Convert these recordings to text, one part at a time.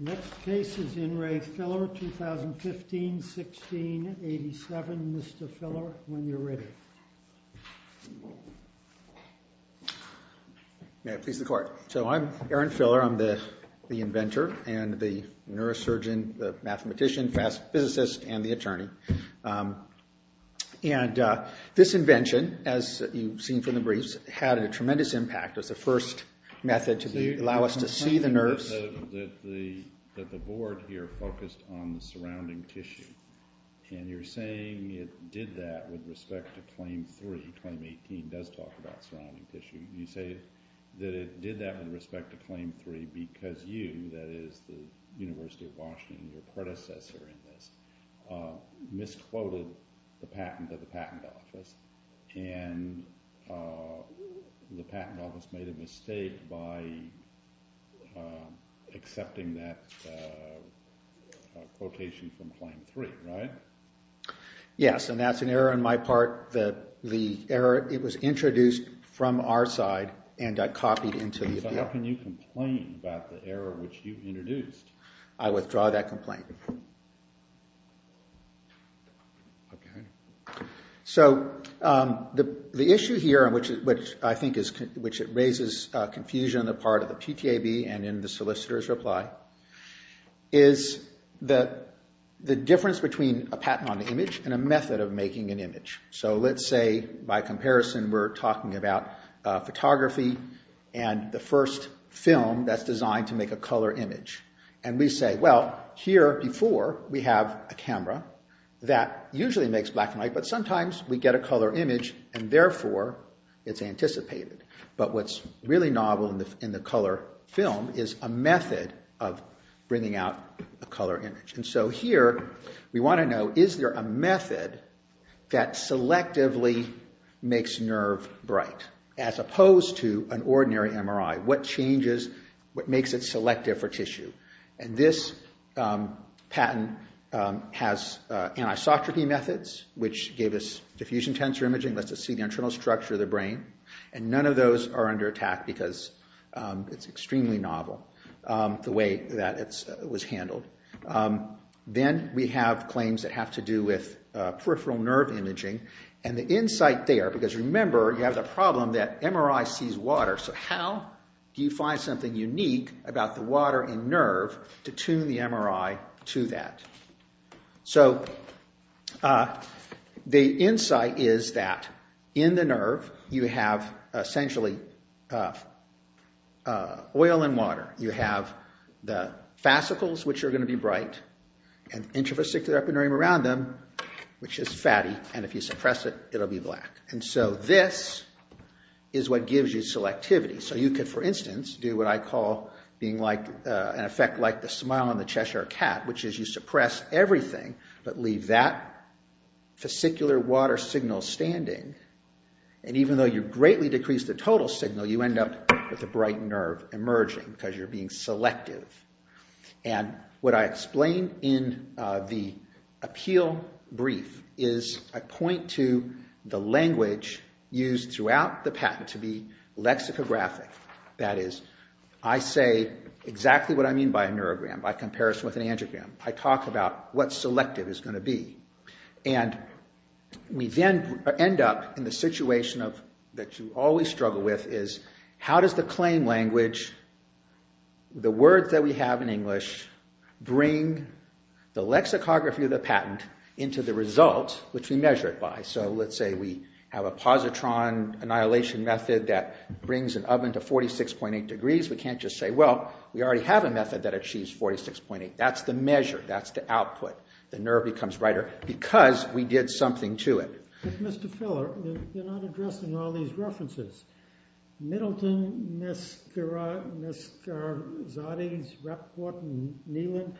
The next case is In Re. Filler, 2015-16-87. Mr. Filler, when you're ready. May it please the Court. So I'm Aaron Filler. I'm the inventor and the neurosurgeon, the And this invention, as you've seen from the briefs, had a tremendous impact. It was the first method to allow us to see the nerves. The board here focused on the surrounding tissue. And you're saying it did that with respect to Claim 3. Claim 18 does talk about surrounding tissue. You say that it did that with respect to Claim 3 because you, that misquoted the patent of the patent office. And the patent office made a mistake by accepting that quotation from Claim 3, right? Yes, and that's an error on my part. The error, it was introduced from our side and got copied into the appeal. So how can you complain about the error which you introduced? I withdraw that complaint. So the issue here, which I think raises confusion on the part of the PTAB and in the solicitor's reply, is the difference between a patent on the image and a method of making an image. So let's say, by comparison, we're talking about photography and the first film that's designed to make a color image. And we say, well, here before we have a camera that usually makes black and white, but sometimes we get a color image and therefore it's anticipated. But what's really novel in the color film is a method of bringing out a color image. So here we want to know, is there a method that selectively makes nerve bright as opposed to an ordinary MRI? What changes, what makes it selective for tissue? And this patent has anisotropy methods, which gave us diffusion tensor imaging, lets us see the internal structure of the brain. And none of those are under attack because it's extremely novel, the way that it was handled. Then we have claims that have to do with peripheral nerve imaging. And the insight there, because remember, you have the problem that MRI sees water. So how do you find something unique about the water in nerve to tune the MRI to that? So the insight is that in the nerve you have essentially oil and water. You have the fascicles, which are going to be bright, and intravasicular epineurium around them, which is fatty, and if you suppress it, it'll be black. And so this is what gives you selectivity. So you could, for instance, do what I call being like, an effect like the smile on the Cheshire cat, which is you suppress everything but leave that fascicular water signal standing. And even though you greatly decrease the total signal, you end up with a bright nerve emerging because you're being selective. What I explain in the appeal brief is I point to the language used throughout the patent to be lexicographic. That is, I say exactly what I mean by a neurogram, by comparison with an angiogram. I talk about what selective is going to be. And we then end up in the situation that you always struggle with is how does the claim language, the words that we have in English, bring the lexicography of the patent into the result, which we measure it by? So let's say we have a positron annihilation method that brings an oven to 46.8 degrees. We can't just say, well, we already have a method that achieves 46.8. That's the measure. That's the output. The nerve becomes brighter because we did something to it. But Mr. Filler, you're not addressing all these references. Middleton, Neskara, Neskarzadeh, Rappaport, and Neland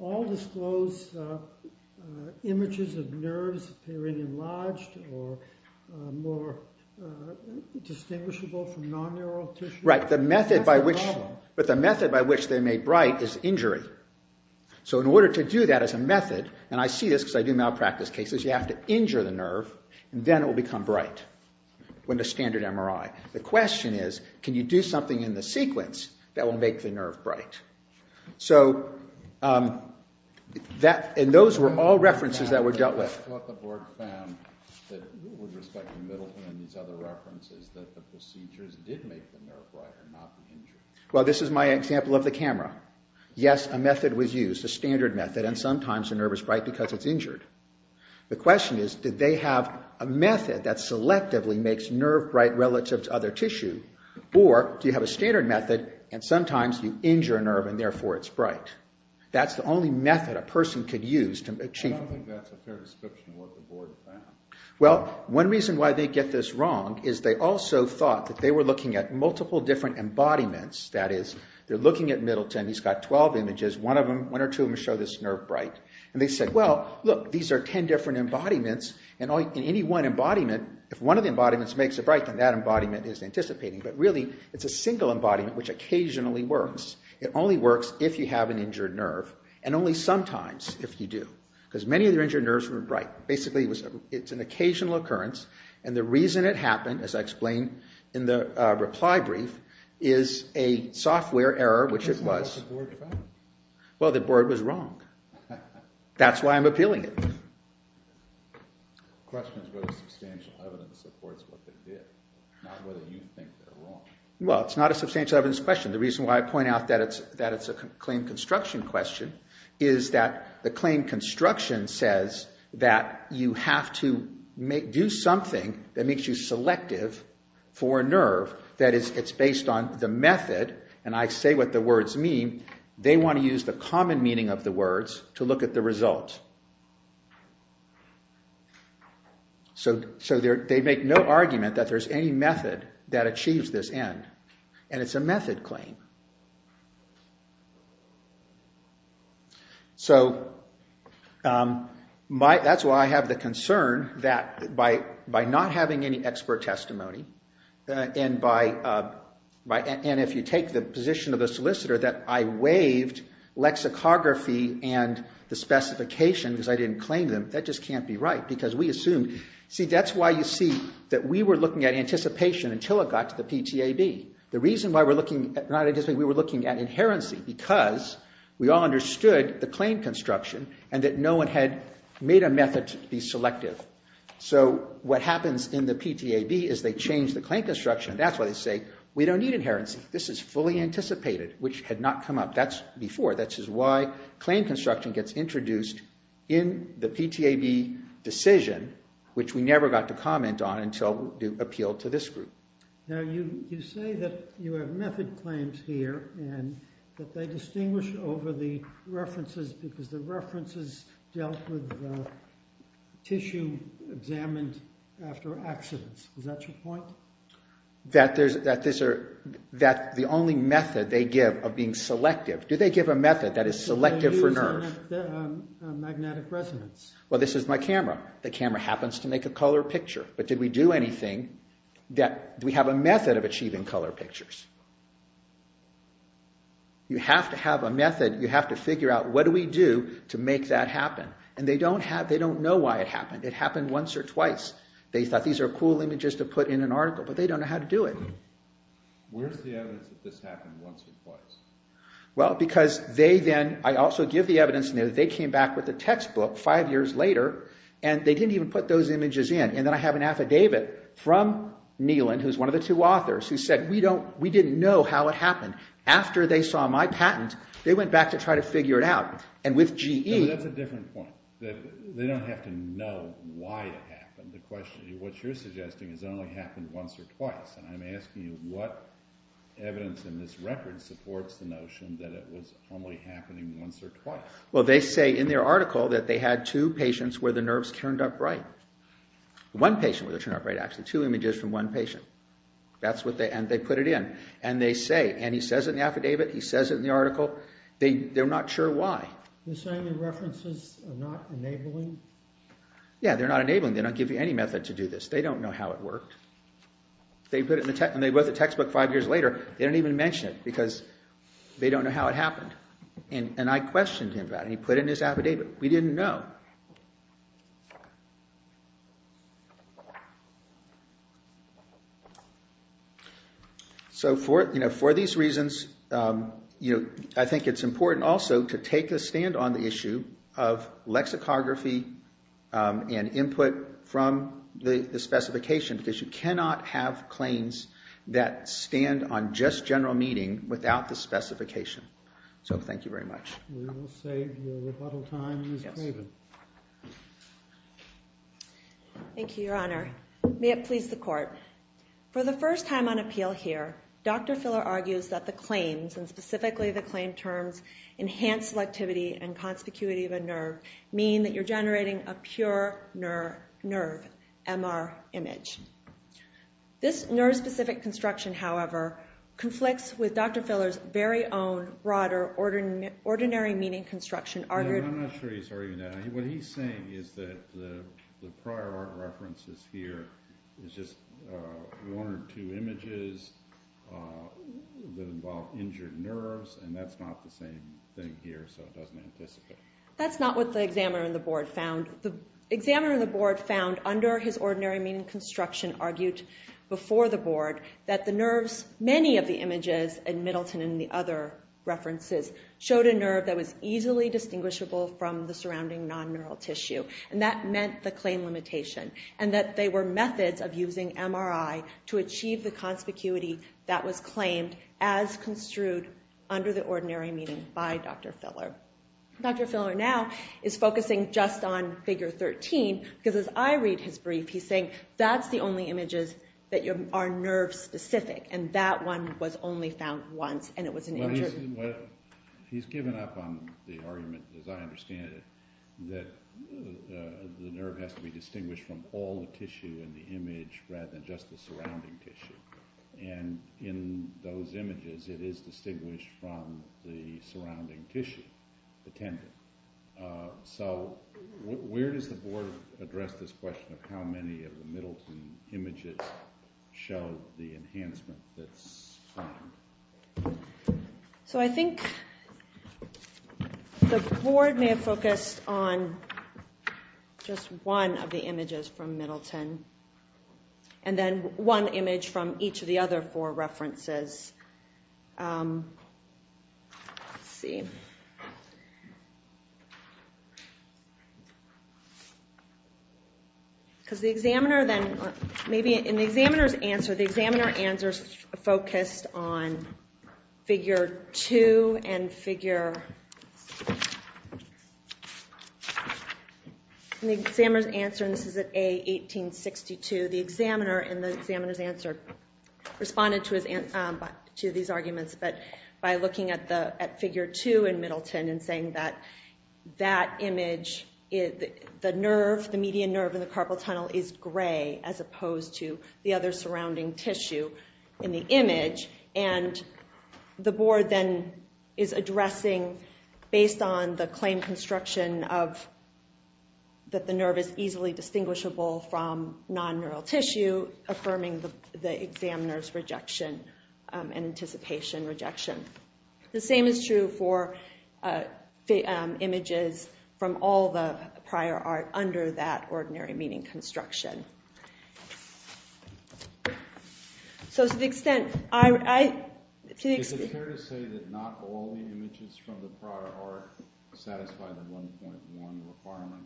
all disclose images of nerves appearing enlarged or more distinguishable from non-neural tissue. Right. But the method by which they made bright is injury. So in order to do that as a method, and I see this because I do malpractice cases, you have to injure the nerve, and then it will become bright when the standard MRI. The question is, can you do something in the sequence that will make the nerve bright? So those were all references that were dealt with. I thought the board found that with respect to Middleton and these other references that Well, this is my example of the camera. Yes, a method was used, a standard method, and sometimes the nerve is bright because it's injured. The question is, did they have a method that selectively makes nerve bright relative to other tissue, or do you have a standard method and sometimes you injure a nerve and therefore it's bright? That's the only method a person could use to achieve... I don't think that's a fair description of what the board found. Well, one reason why they get this wrong is they also thought that they were looking at Middleton. He's got 12 images. One or two of them show this nerve bright. They said, well, look, these are 10 different embodiments, and in any one embodiment, if one of the embodiments makes it bright, then that embodiment is anticipating. But really, it's a single embodiment which occasionally works. It only works if you have an injured nerve, and only sometimes if you do, because many of the injured nerves were bright. Basically, it's an occasional occurrence, and the reason it happened, as I explained in the reply brief, is a software error, which it was. That's not what the board found. Well, the board was wrong. That's why I'm appealing it. The question is whether substantial evidence supports what they did, not whether you think they're wrong. Well, it's not a substantial evidence question. The reason why I point out that it's a claim construction question is that the claim construction says that you have to do something that makes you selective for a nerve. That is, it's based on the method, and I say what the words mean. They want to use the common meaning of the words to look at the result. So they make no argument that there's any method that achieves this end, and it's a method claim. So, that's why I have the concern that by not having any expert testimony, and if you take the position of the solicitor that I waived lexicography and the specifications because I didn't claim them, that just can't be right, because we assumed... See, that's why you see that we were looking at anticipation until it got to the PTAB. The reason why we're looking, not anticipation, we were looking at inherency because we all understood the claim construction and that no one had made a method to be selective. So, what happens in the PTAB is they change the claim construction, and that's why they say, we don't need inherency. This is fully anticipated, which had not come up. That's before. That's why claim construction gets introduced in the PTAB decision, which we never got to comment on until the appeal to this group. Now, you say that you have method claims here, and that they distinguish over the references because the references dealt with tissue examined after accidents. Is that your point? That the only method they give of being selective... Do they give a method that is selective for nerve? Magnetic resonance. Well, this is my camera. The camera happens to make a color picture, but did we do anything that... Do we have a method of achieving color pictures? You have to have a method. You have to figure out, what do we do to make that happen? And they don't know why it happened. It happened once or twice. They thought these are cool images to put in an article, but they don't know how to do it. Where's the evidence that this happened once or twice? Well, because they then... I also give the evidence that they came back with a textbook five years later, and they didn't even put those images in. And then I have an affidavit from Neelan, who's one of the two authors, who said, we didn't know how it happened. After they saw my patent, they went back to try to figure it out. And with GE... That's a different point. They don't have to know why it happened. What you're suggesting is it only happened once or twice. And I'm asking you, what evidence in this record supports the notion that it was only happening once or twice? Well, they say in their article that they had two patients where the nerves turned up bright. One patient where they turned up bright, actually. Two images from one patient. That's what they... And they put it in. And they say... And he says it in the affidavit. He says it in the article. They're not sure why. You're saying the references are not enabling? Yeah, they're not enabling. They don't give you any method to do this. They don't know how it worked. And they wrote the textbook five years later. They didn't even mention it because they don't know how it happened. And I questioned him about it. He put it in his affidavit. We didn't know. So, for these reasons, I think it's important also to take a stand on the issue of lexicography and input from the specification because you cannot have claims that stand on just general meaning without the specification. So, thank you very much. We will save your rebuttal time, Ms. Craven. Thank you, Your Honor. May it please the Court. For the first time on appeal here, Dr. Filler argues that the claims, and specifically the claim terms, enhance selectivity and conspicuity of a nerve, meaning that you're generating a pure nerve, MR image. This nerve-specific construction, however, conflicts with Dr. Filler's very own broader ordinary meaning construction. I'm not sure he's arguing that. What he's saying is that the prior art references here is just one or two images that involve injured nerves, and that's not the same thing here, so it doesn't anticipate. That's not what the examiner in the board found. The examiner in the board found under his ordinary meaning construction argued before the board that the nerves, many of the images in Middleton and the other references, showed a nerve that was easily distinguishable from the surrounding non-neural tissue, and that meant the claim limitation, and that they were methods of using MRI to achieve the conspicuity that was claimed as construed under the ordinary meaning by Dr. Filler. Dr. Filler now is focusing just on figure 13, because as I read his brief, he's saying that's the only images that are nerve-specific, and that one was only found once, and it was an injured... Well, he's given up on the argument, as I understand it, that the nerve has to be distinguished from all the tissue in the image rather than just the surrounding tissue, and in those the tissue attended. So where does the board address this question of how many of the Middleton images show the enhancement that's found? So I think the board may have focused on just one of the images from Middleton, and then one image from each of the other four references. Let's see. Because the examiner then, maybe in the examiner's answer, the examiner answers focused on figure 2 and figure... In the examiner's answer, and this is at A, 1862, the examiner in the examiner's answer responded to these arguments by looking at figure 2 in Middleton and saying that that image, the nerve, the median nerve in the carpal tunnel is gray as opposed to the other surrounding tissue in the image, and the board then is addressing, based on the claim construction of that the nerve is easily distinguishable from non-neural tissue, affirming the examiner's rejection and anticipation rejection. The same is true for images from all the prior art under that ordinary meaning construction. So to the extent... Is it fair to say that not all the images from the prior art satisfy the 1.1 requirement?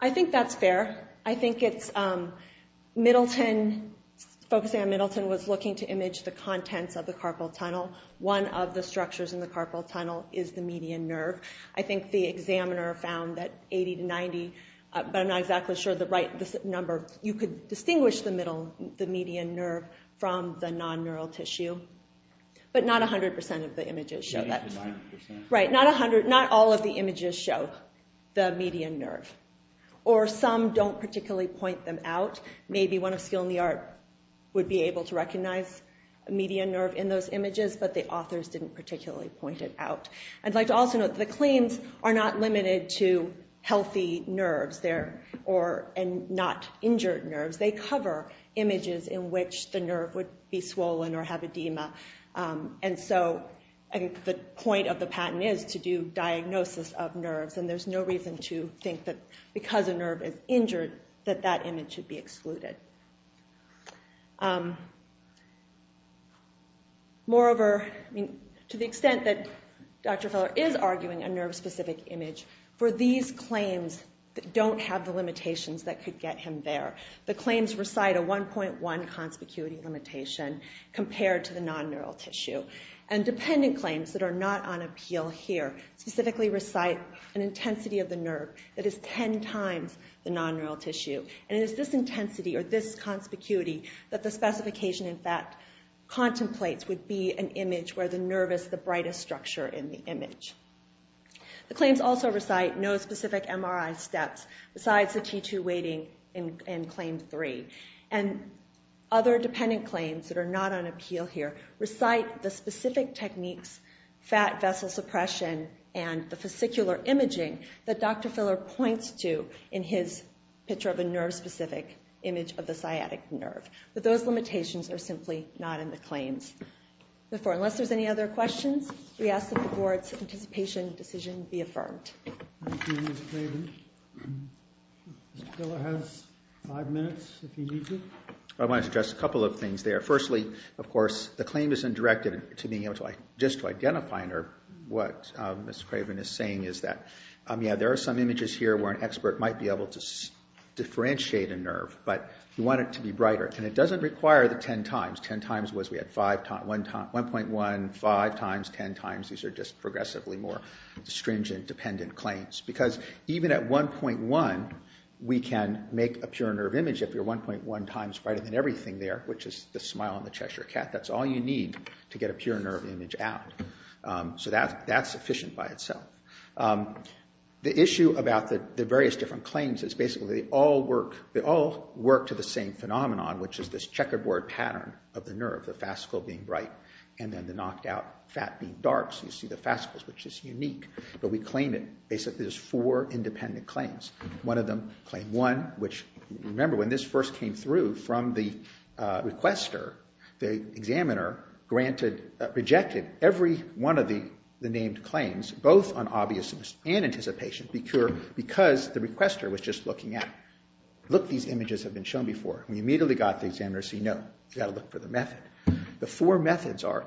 I think that's fair. I think it's Middleton, focusing on Middleton, was looking to image the contents of the carpal tunnel. One of the structures in the carpal tunnel is the median nerve. I think the examiner found that 80 to 90, but I'm not exactly sure the right number... You could distinguish the median nerve from the non-neural tissue, but not 100% of the images show that. Not all of the images show the median nerve, or some don't particularly point them out. Maybe one of Skill in the Art would be able to recognize a median nerve in those images, but the authors didn't particularly point it out. I'd like to also note that the claims are not limited to healthy nerves and not injured nerves. They cover images in which the nerve would be swollen or have edema. And so the point of the patent is to do diagnosis of nerves, and there's no reason to think that because a nerve is injured that that image should be excluded. Moreover, to the extent that Dr. Feller is arguing a nerve-specific image, for these claims that don't have the limitations that could get him there, the claims recite a 1.1 conspicuity limitation compared to the non-neural tissue. And dependent claims that are not on appeal here specifically recite an intensity of the nerve that is 10 times the non-neural tissue. And it is this intensity or this conspicuity that the specification, in fact, contemplates would be an image where the nerve is the brightest structure in the image. The claims also recite no specific MRI steps besides the T2 weighting in claim 3. And other dependent claims that are not on appeal here recite the specific techniques, fat vessel suppression and the fascicular imaging that Dr. Feller points to in his picture of a nerve-specific image of the sciatic nerve. But those limitations are simply not in the claims. Therefore, unless there's any other questions, we ask that the Board's anticipation decision be affirmed. Thank you, Ms. Clayton. Mr. Feller has five minutes if he needs it. I want to address a couple of things there. Firstly, of course, the claim isn't directed to being able to just identify a nerve. What Ms. Craven is saying is that there are some images here where an expert might be able to differentiate a nerve, but you want it to be brighter. And it doesn't require the 10 times. 10 times was we had 1.1, 5 times, 10 times. These are just progressively more stringent dependent claims. Because even at 1.1, we can make a pure nerve image if you're 1.1 times brighter than everything there, which is the smile on the Cheshire cat. That's all you need to get a pure nerve image out. So that's sufficient by itself. The issue about the various different claims is basically they all work to the same phenomenon, which is this checkerboard pattern of the nerve, the fascicle being bright, and then the knocked out fat being dark. So you see the fascicles, which is unique. But we claim it. Basically, there's four independent claims. One of them, Claim 1, which, remember, when this first came through from the requester, the examiner granted, rejected every one of the named claims, both on obviousness and anticipation, because the requester was just looking at, look, these images have been shown before. We immediately got the examiner to say, no, you've got to look for the method. The four methods are,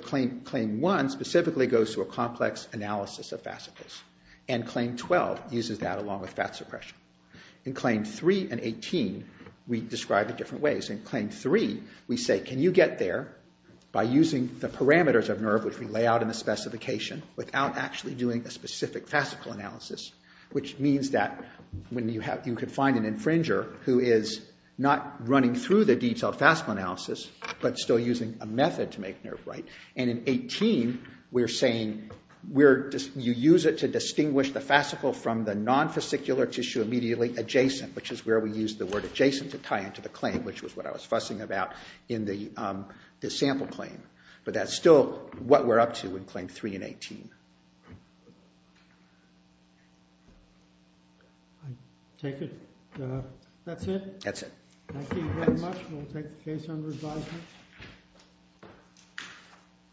Claim 1 specifically goes to a complex analysis of fascicles, and Claim 12 uses that along with fat suppression. In Claim 3 and 18, we describe it different ways. In Claim 3, we say, can you get there by using the parameters of nerve, which we lay out in the specification, without actually doing a specific fascicle analysis, which means that you could find an infringer who is not running through the detailed fascicle analysis but still using a method to make nerve bright. And in 18, we're saying you use it to distinguish the fascicle from the non-fascicular tissue immediately adjacent, which is where we use the word adjacent to tie into the claim, which is what I was fussing about in the sample claim. But that's still what we're up to in Claim 3 and 18. I take it that's it? That's it. Thank you very much. We'll take the case under advisement.